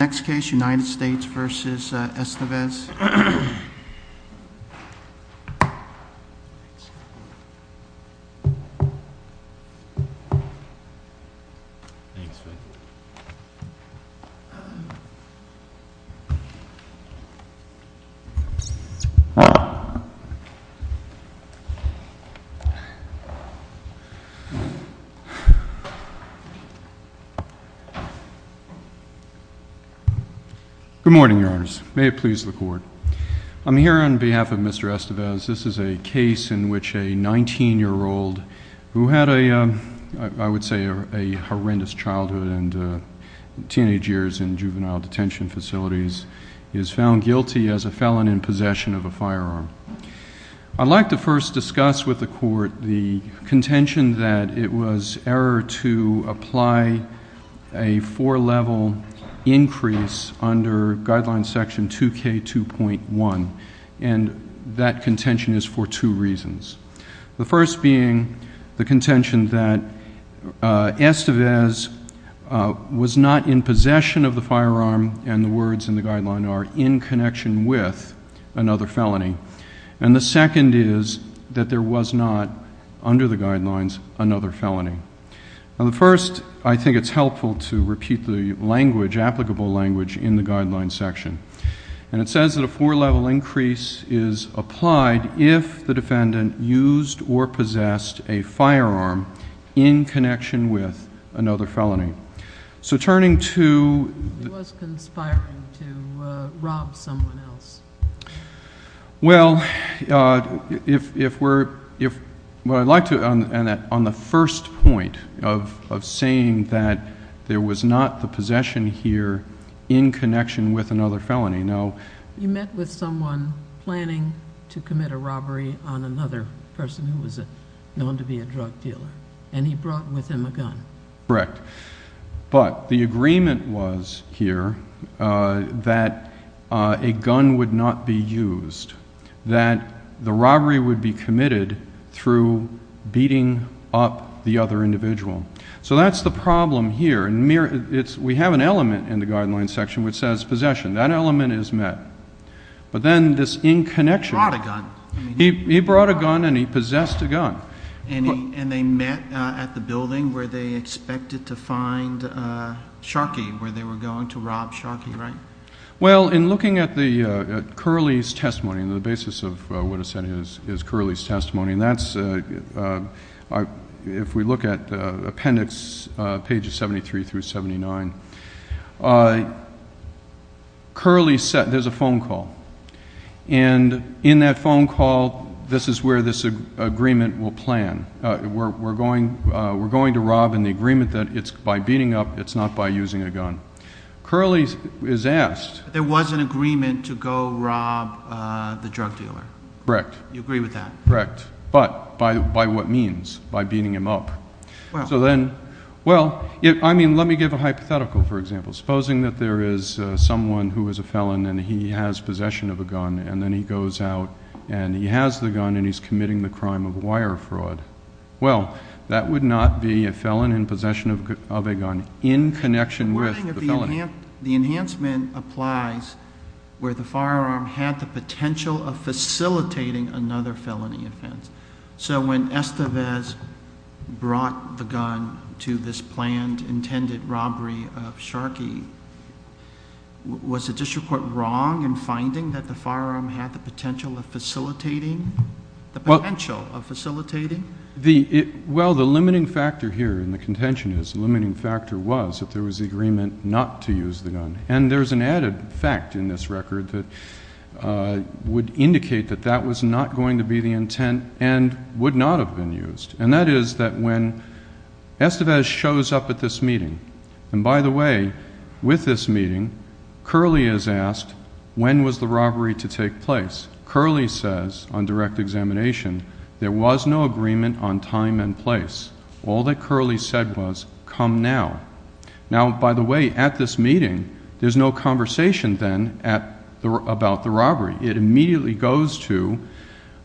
Next case, United States v. Estevez. Good morning, your honors. May it please the court. I'm here on behalf of Mr. Estevez. This is a case in which a 19-year-old who had a, I would say, a horrendous childhood and teenage years in juvenile detention facilities is found guilty as a felon in possession of a firearm. I'd like to first discuss with the court the contention that it was error to apply a four-level increase under Guideline Section 2K2.1. And that contention is for two reasons. The first being the contention that Estevez was not in possession of the firearm, and the words in the guideline are, in connection with another felony. And the second is that there was not, under the guidelines, another felony. Now, the first, I think it's helpful to repeat the language, applicable language, in the guideline section. And it says that a four-level increase is applied if the defendant used or possessed a firearm in connection with another felony. So turning to... It was conspiring to rob someone else. Well, if we're... Well, I'd like to, on the first point of saying that there was not the possession here in connection with another felony, no... You met with someone planning to commit a robbery on another person who was known to be a drug dealer, and he brought with him a gun. Correct. But the agreement was here that a gun would not be used, that the robbery would be committed through beating up the other individual. So that's the problem here. We have an element in the guideline section which says possession. That element is met. But then this in connection... He brought a gun. He brought a gun and he possessed a gun. And they met at the building where they expected to find Sharkey, where they were going to rob Sharkey, right? Well, in looking at Curley's testimony, the basis of what is said is Curley's testimony, and that's... If we look at appendix pages 73 through 79, Curley said there's a phone call. And in that phone call, this is where this agreement will plan. We're going to rob in the agreement that it's by beating up, it's not by using a gun. Curley is asked... There was an agreement to go rob the drug dealer. Correct. You agree with that? Correct. But by what means? By beating him up. So then... Well... I mean, let me give a hypothetical, for example. Supposing that there is someone who is a felon and he has possession of a gun. And then he goes out and he has the gun and he's committing the crime of wire fraud. Well, that would not be a felon in possession of a gun, in connection with the felony. The enhancement applies where the firearm had the potential of facilitating another felony offense. So when Estevez brought the gun to this planned, intended robbery of Sharkey, was the district court wrong in finding that the firearm had the potential of facilitating? The potential of facilitating? Well, the limiting factor here in the contention is, the limiting factor was, that there was agreement not to use the gun. And there's an added fact in this record that would indicate that that was not going to be the intent and would not have been used. And that is that when Estevez shows up at this meeting, and by the way, with this meeting, Curley is asked, when was the robbery to take place? Curley says, on direct examination, there was no agreement on time and place. All that Curley said was, come now. Now, by the way, at this meeting, there's no conversation then about the robbery. It immediately goes to,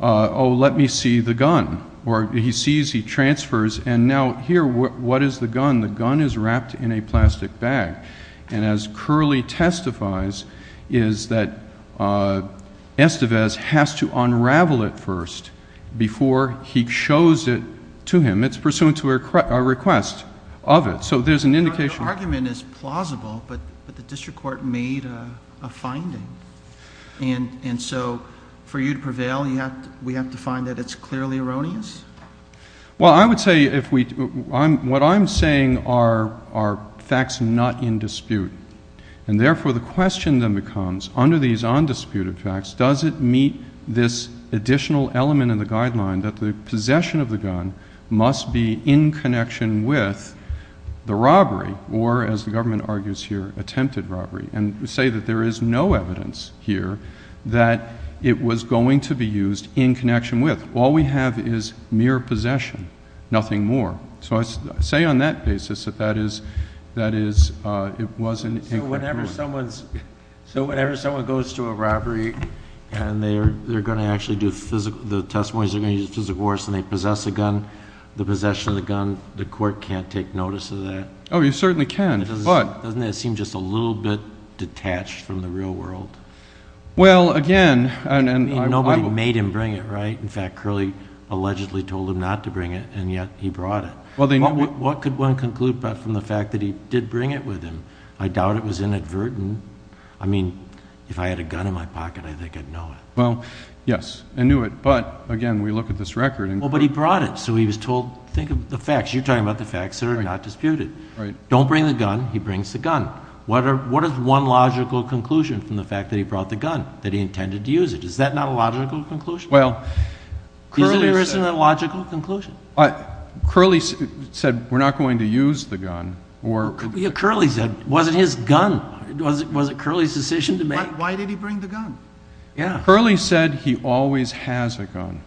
oh, let me see the gun. Or he sees, he transfers, and now here, what is the gun? The gun is wrapped in a plastic bag. And as Curley testifies, is that Estevez has to unravel it first before he shows it to him. It's pursuant to a request of it. So there's an indication. Your argument is plausible, but the district court made a finding. And so for you to prevail, we have to find that it's clearly erroneous? Well, I would say, what I'm saying are facts not in dispute. And therefore, the question then becomes, under these undisputed facts, does it meet this additional element in the guideline that the possession of the gun must be in connection with the robbery, or, as the government argues here, attempted robbery, and say that there is no evidence here that it was going to be used in connection with. All we have is mere possession, nothing more. So I say on that basis that it was an incorrect ruling. So whenever someone goes to a robbery and they're going to actually do physical, the testimony is they're going to use a physical force and they possess a gun, the possession of the gun, the court can't take notice of that? Oh, you certainly can, but. Doesn't that seem just a little bit detached from the real world? Well, again. I mean, nobody made him bring it, right? In fact, Curley allegedly told him not to bring it, and yet he brought it. What could one conclude from the fact that he did bring it with him? I doubt it was inadvertent. I mean, if I had a gun in my pocket, I think I'd know it. Well, yes, I knew it. But, again, we look at this record. Well, but he brought it, so he was told, think of the facts. You're talking about the facts that are not disputed. Right. Don't bring the gun. He brings the gun. What is one logical conclusion from the fact that he brought the gun, that he intended to use it? Is that not a logical conclusion? Well, Curley said. Isn't there a logical conclusion? Curley said we're not going to use the gun. Yeah, Curley said. Was it his gun? Was it Curley's decision to make? Why did he bring the gun? Yeah. Curley said he always has a gun.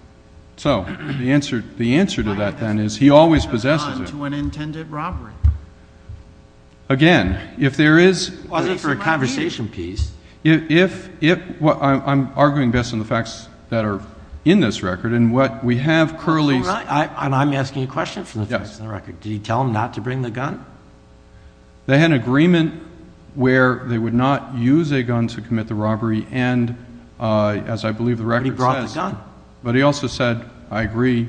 So the answer to that, then, is he always possesses it. Why does he always have a gun to an intended robbery? Again, if there is... Wasn't it for a conversation piece? If... I'm arguing based on the facts that are in this record, and what we have Curley's... That's all right. And I'm asking a question from the facts in the record. Did he tell them not to bring the gun? They had an agreement where they would not use a gun to commit the robbery and, as I believe the record says... But he brought the gun. But he also said, I agree,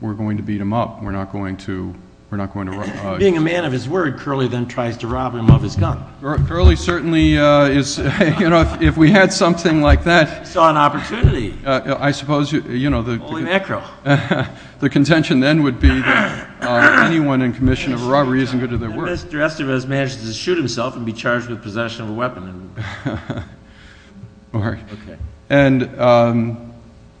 we're going to beat him up. We're not going to... Being a man of his word, Curley then tries to rob him of his gun. Curley certainly is... You know, if we had something like that... He saw an opportunity. I suppose... Holy mackerel. The contention then would be that anyone in commission of a robbery isn't good at their work. The rest of us managed to shoot himself and be charged with possession of a weapon. All right. And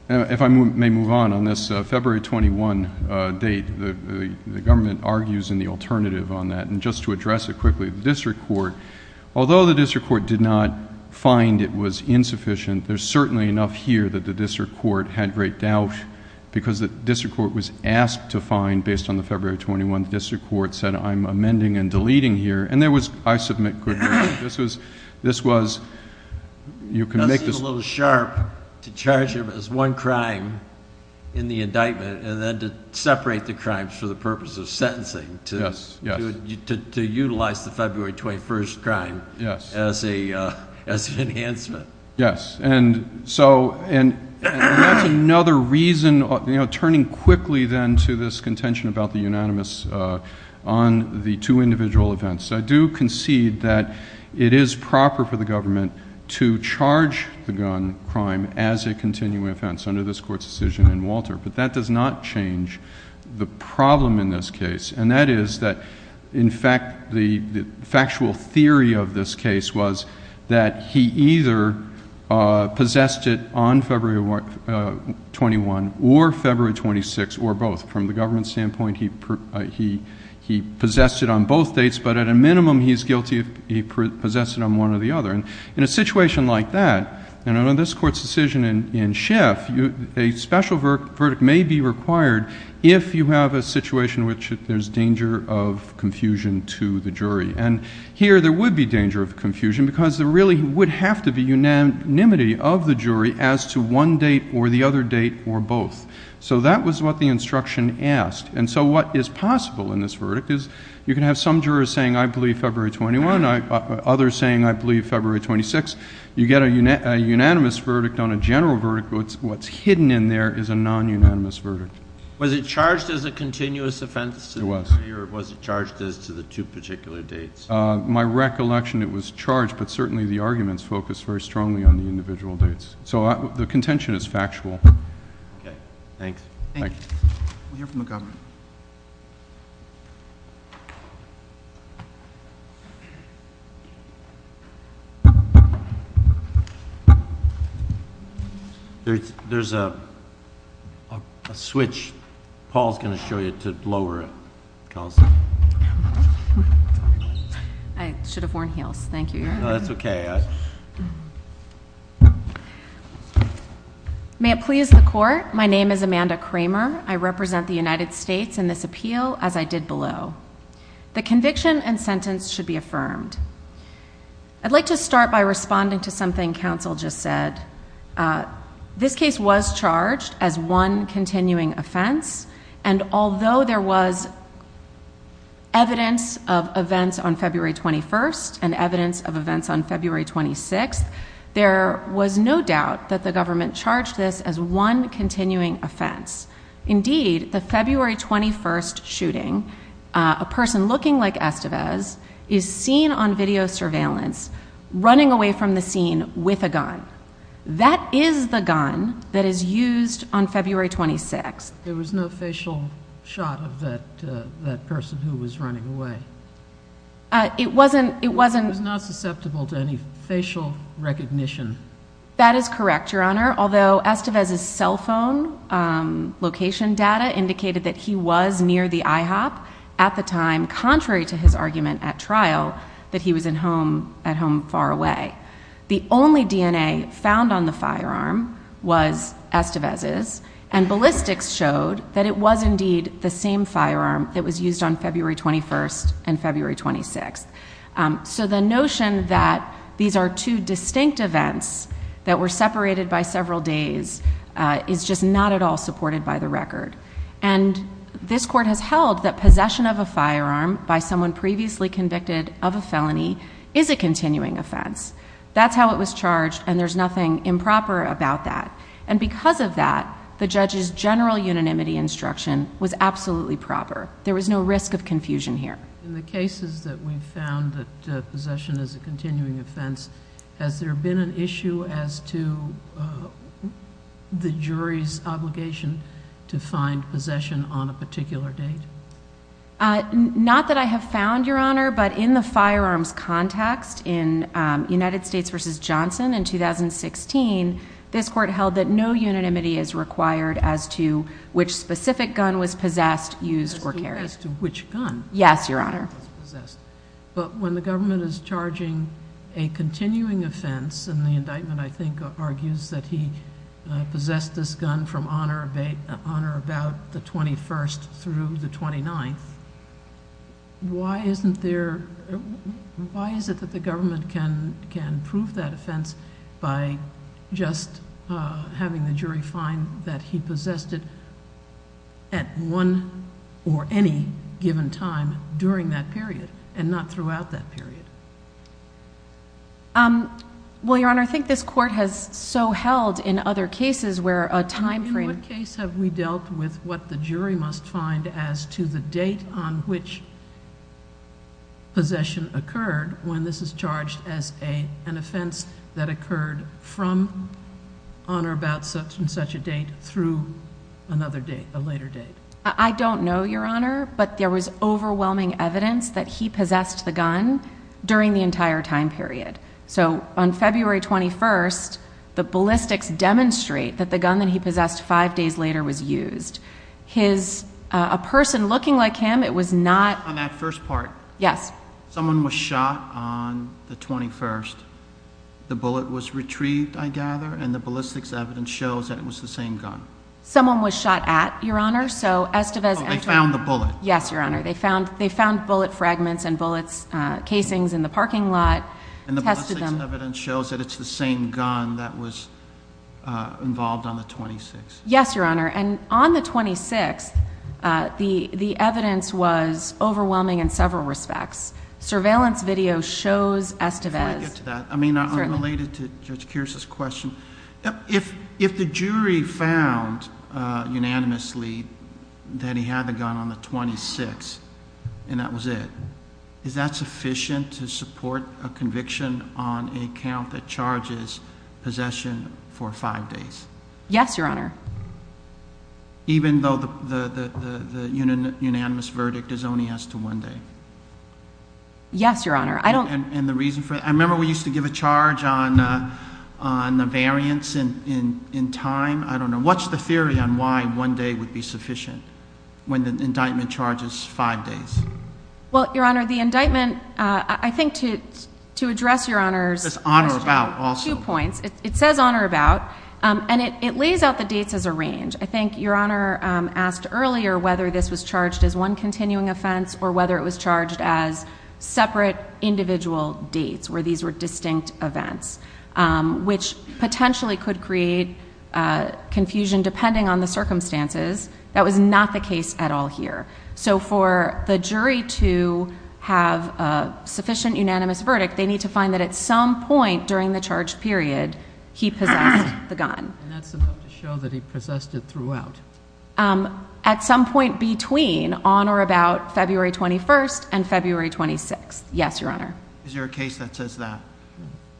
if I may move on on this February 21 date, the government argues in the alternative on that. And just to address it quickly, the district court, although the district court did not find it was insufficient, there's certainly enough here that the district court had great doubt because the district court was asked to find, based on the February 21, the district court said, I'm amending and deleting here. And there was, I submit quickly, this was, you can make this... It seems a little sharp to charge him as one crime in the indictment and then to separate the crimes for the purpose of sentencing. Yes, yes. To utilize the February 21 crime. Yes. As an enhancement. Yes. And so, and that's another reason, you know, turning quickly then to this contention about the unanimous on the two individual events. I do concede that it is proper for the government to charge the gun crime as a continuing offense under this court's decision in Walter. But that does not change the problem in this case. And that is that, in fact, the factual theory of this case was that he either possessed it on February 21 or February 26 or both. From the government's standpoint, he possessed it on both dates. But at a minimum, he's guilty if he possessed it on one or the other. And in a situation like that, and under this court's decision in Schiff, a special verdict may be required if you have a situation in which there's danger of confusion to the jury. And here there would be danger of confusion because there really would have to be unanimity of the jury as to one date or the other date or both. So that was what the instruction asked. And so what is possible in this verdict is you can have some jurors saying I believe February 21, others saying I believe February 26. You get a unanimous verdict on a general verdict, but what's hidden in there is a non-unanimous verdict. Was it charged as a continuous offense? It was. Or was it charged as to the two particular dates? My recollection, it was charged, but certainly the arguments focused very strongly on the individual dates. So the contention is factual. Okay. Thanks. Thank you. We'll hear from the government. There's a switch. Paul's going to show you to lower it. I should have worn heels. Thank you. That's okay. May it please the court. Your Honor, my name is Amanda Kramer. I represent the United States in this appeal, as I did below. The conviction and sentence should be affirmed. I'd like to start by responding to something counsel just said. This case was charged as one continuing offense, and although there was evidence of events on February 21st and evidence of events on February 26th, there was no doubt that the government charged this as one continuing offense. Indeed, the February 21st shooting, a person looking like Estevez, is seen on video surveillance, running away from the scene with a gun. That is the gun that is used on February 26th. There was no facial shot of that person who was running away. It wasn't. He was not susceptible to any facial recognition. That is correct, Your Honor, although Estevez's cell phone location data indicated that he was near the IHOP at the time, contrary to his argument at trial that he was at home far away. The only DNA found on the firearm was Estevez's, and ballistics showed that it was indeed the same firearm that was used on February 21st and February 26th. So the notion that these are two distinct events that were separated by several days is just not at all supported by the record. This court has held that possession of a firearm by someone previously convicted of a felony is a continuing offense. That's how it was charged, and there's nothing improper about that. Because of that, the judge's general unanimity instruction was absolutely proper. There was no risk of confusion here. In the cases that we found that possession is a continuing offense, has there been an issue as to the jury's obligation to find possession on a particular date? Not that I have found, Your Honor, but in the firearms context in United States v. Johnson in 2016, this court held that no unanimity is required as to which specific gun was possessed, used, or carried. As to which gun? Yes, Your Honor. But when the government is charging a continuing offense, and the indictment, I think, argues that he possessed this gun from honor about the 21st through the 29th, why is it that the government can prove that offense by just having the jury find that he possessed it at one or any given time during that period and not throughout that period? Well, Your Honor, I think this court has so held in other cases where a time frame... In what case have we dealt with what the jury must find as to the date on which possession occurred when this is charged as an offense that occurred from honor about such and such a date through another date, a later date? I don't know, Your Honor, but there was overwhelming evidence that he possessed the gun during the entire time period. So, on February 21st, the ballistics demonstrate that the gun that he possessed five days later was used. A person looking like him, it was not... On that first part? Yes. Someone was shot on the 21st. The bullet was retrieved, I gather, and the ballistics evidence shows that it was the same gun. Someone was shot at, Your Honor, so Estevez... Oh, they found the bullet. Yes, Your Honor. They found bullet fragments and bullet casings in the parking lot, tested them... And the ballistics evidence shows that it's the same gun that was involved on the 26th. Yes, Your Honor, and on the 26th, the evidence was overwhelming in several respects. Surveillance video shows Estevez... Can I get to that? Certainly. I mean, unrelated to Judge Kearse's question, if the jury found unanimously that he had the gun on the 26th and that was it, is that sufficient to support a conviction on a count that charges possession for five days? Yes, Your Honor. Even though the unanimous verdict is only as to one day? Yes, Your Honor. I don't... And the reason for... I remember we used to give a charge on the variance in time. I don't know. What's the theory on why one day would be sufficient when the indictment charges five days? Well, Your Honor, the indictment, I think to address Your Honor's... It's on or about also. It has two points. It says on or about, and it lays out the dates as a range. I think Your Honor asked earlier whether this was charged as one continuing offense or whether it was charged as separate individual dates where these were distinct events, which potentially could create confusion depending on the circumstances. That was not the case at all here. So for the jury to have a sufficient unanimous verdict, they need to find that at some point during the charge period he possessed the gun. And that's enough to show that he possessed it throughout. At some point between on or about February 21st and February 26th. Yes, Your Honor. Is there a case that says that?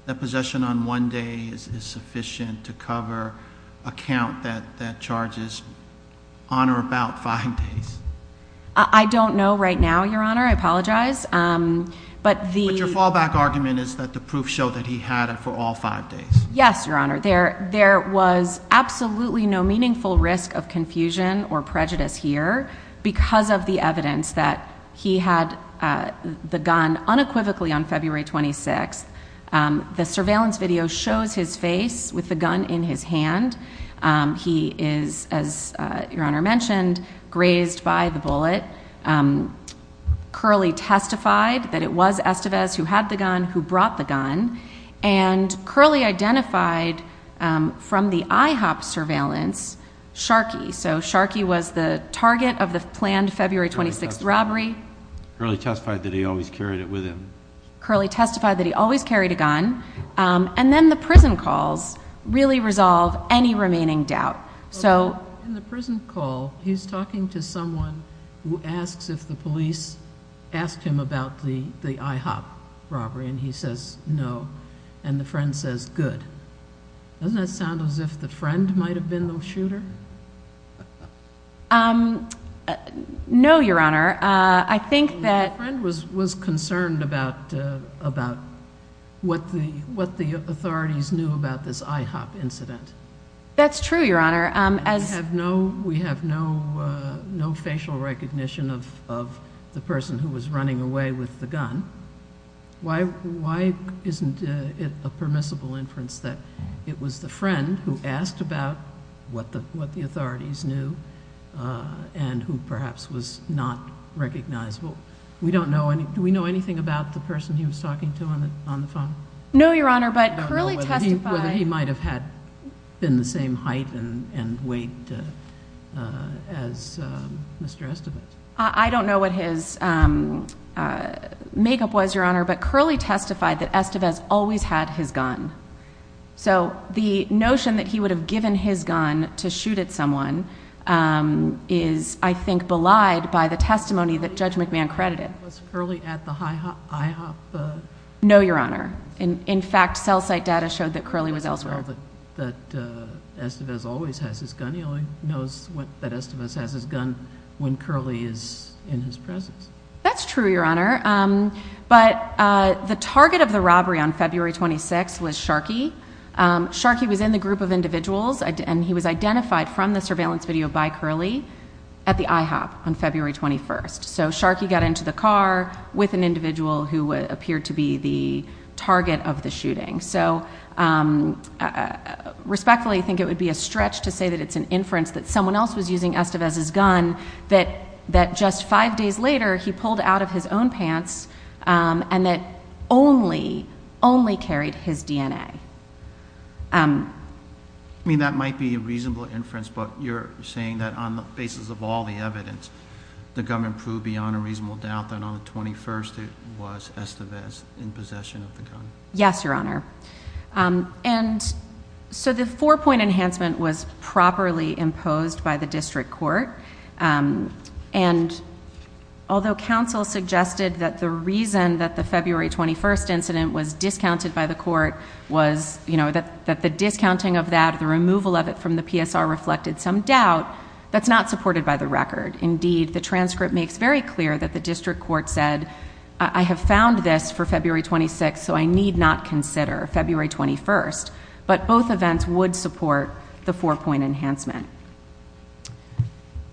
That possession on one day is sufficient to cover a count that charges on or about five days? I don't know right now, Your Honor. I apologize. But the... But your fallback argument is that the proof showed that he had it for all five days. Yes, Your Honor. There was absolutely no meaningful risk of confusion or prejudice here because of the evidence that he had the gun unequivocally on February 26th. The surveillance video shows his face with the gun in his hand. He is, as Your Honor mentioned, grazed by the bullet. Curley testified that it was Estevez who had the gun, who brought the gun. And Curley identified from the IHOP surveillance Sharkey. So Sharkey was the target of the planned February 26th robbery. Curley testified that he always carried it with him. Curley testified that he always carried a gun. And then the prison calls really resolve any remaining doubt. So... In the prison call, he's talking to someone who asks if the police asked him about the IHOP robbery. And he says no. And the friend says good. Doesn't that sound as if the friend might have been the shooter? No, Your Honor. I think that... The friend was concerned about what the authorities knew about this IHOP incident. That's true, Your Honor. We have no facial recognition of the person who was running away with the gun. Why isn't it a permissible inference that it was the friend who asked about what the authorities knew and who perhaps was not recognizable? Do we know anything about the person he was talking to on the phone? No, Your Honor. But Curley testified... I don't know whether he might have been the same height and weight as Mr. Estevez. I don't know what his makeup was, Your Honor, but Curley testified that Estevez always had his gun. So the notion that he would have given his gun to shoot at someone is, I think, belied by the testimony that Judge McMahon credited. Was Curley at the IHOP? No, Your Honor. In fact, cell site data showed that Curley was elsewhere. He doesn't know that Estevez always has his gun. He only knows that Estevez has his gun when Curley is in his presence. That's true, Your Honor. But the target of the robbery on February 26 was Sharkey. Sharkey was in the group of individuals, and he was identified from the surveillance video by Curley at the IHOP on February 21. So Sharkey got into the car with an individual who appeared to be the target of the shooting. So respectfully, I think it would be a stretch to say that it's an inference that someone else was using Estevez's gun, that just five days later he pulled out of his own pants, and that only, only carried his DNA. I mean, that might be a reasonable inference, but you're saying that on the basis of all the evidence, the gun improved beyond a reasonable doubt that on the 21st it was Estevez in possession of the gun. Yes, Your Honor. And so the four-point enhancement was properly imposed by the district court. And although counsel suggested that the reason that the February 21st incident was discounted by the court was, you know, that the discounting of that, the removal of it from the PSR reflected some doubt, that's not supported by the record. Indeed, the transcript makes very clear that the district court said, I have found this for February 26th, so I need not consider February 21st. But both events would support the four-point enhancement.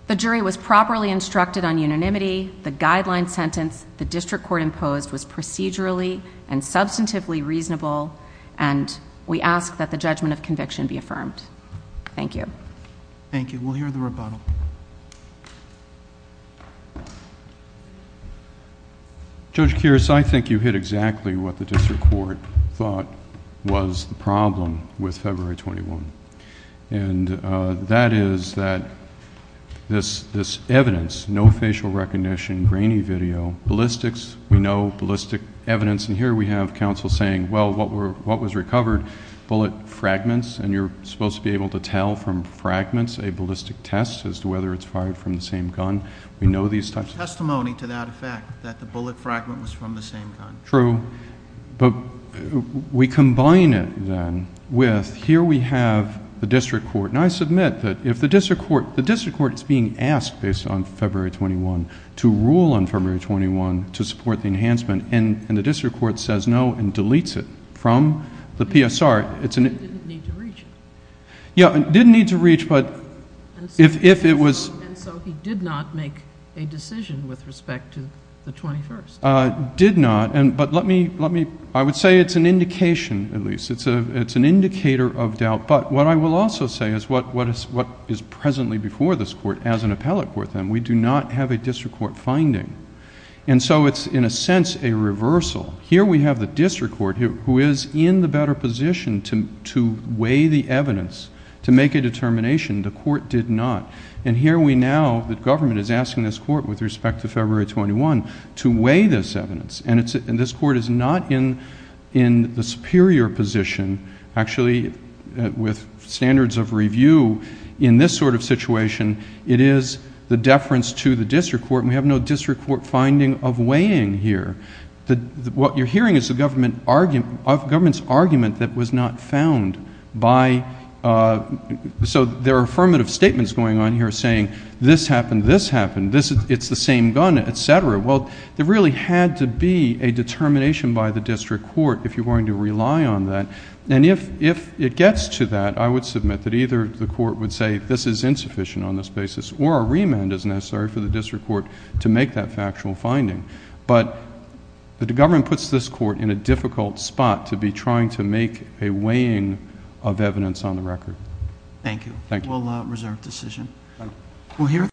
The jury was properly instructed on unanimity. The guideline sentence the district court imposed was procedurally and substantively reasonable. And we ask that the judgment of conviction be affirmed. Thank you. Thank you. We'll hear the rebuttal. Judge Kiras, I think you hit exactly what the district court thought was the problem with February 21. And that is that this evidence, no facial recognition, grainy video, ballistics, we know ballistics evidence. And here we have counsel saying, well, what was recovered, bullet fragments, and you're supposed to be able to tell from fragments a ballistic test as to whether it's fired from the same gun. We know these types of- There's no testimony to that effect, that the bullet fragment was from the same gun. True. But we combine it then with, here we have the district court. And I submit that if the district court is being asked based on February 21 to rule on February 21 to support the enhancement, and the district court says no and deletes it from the PSR, it's an... He didn't need to reach it. Yeah, didn't need to reach, but if it was... And so he did not make a decision with respect to the 21st. Did not, but let me... I would say it's an indication, at least. It's an indicator of doubt. But what I will also say is what is presently before this court as an appellate court, then. We do not have a district court finding. And so it's, in a sense, a reversal. Here we have the district court who is in the better position to weigh the evidence, to make a determination. The court did not. And here we now, the government is asking this court with respect to February 21 to weigh this evidence. And this court is not in the superior position, actually, with standards of review in this sort of situation. It is the deference to the district court, and we have no district court finding of weighing here. What you're hearing is the government's argument that was not found by... So there are affirmative statements going on here saying this happened, this happened, it's the same gun, et cetera. Well, there really had to be a determination by the district court if you're going to rely on that. And if it gets to that, I would submit that either the court would say this is insufficient on this basis, or a remand is necessary for the district court to make that factual finding. But the government puts this court in a difficult spot to be trying to make a weighing of evidence on the record. Thank you. Thank you. We'll reserve decision.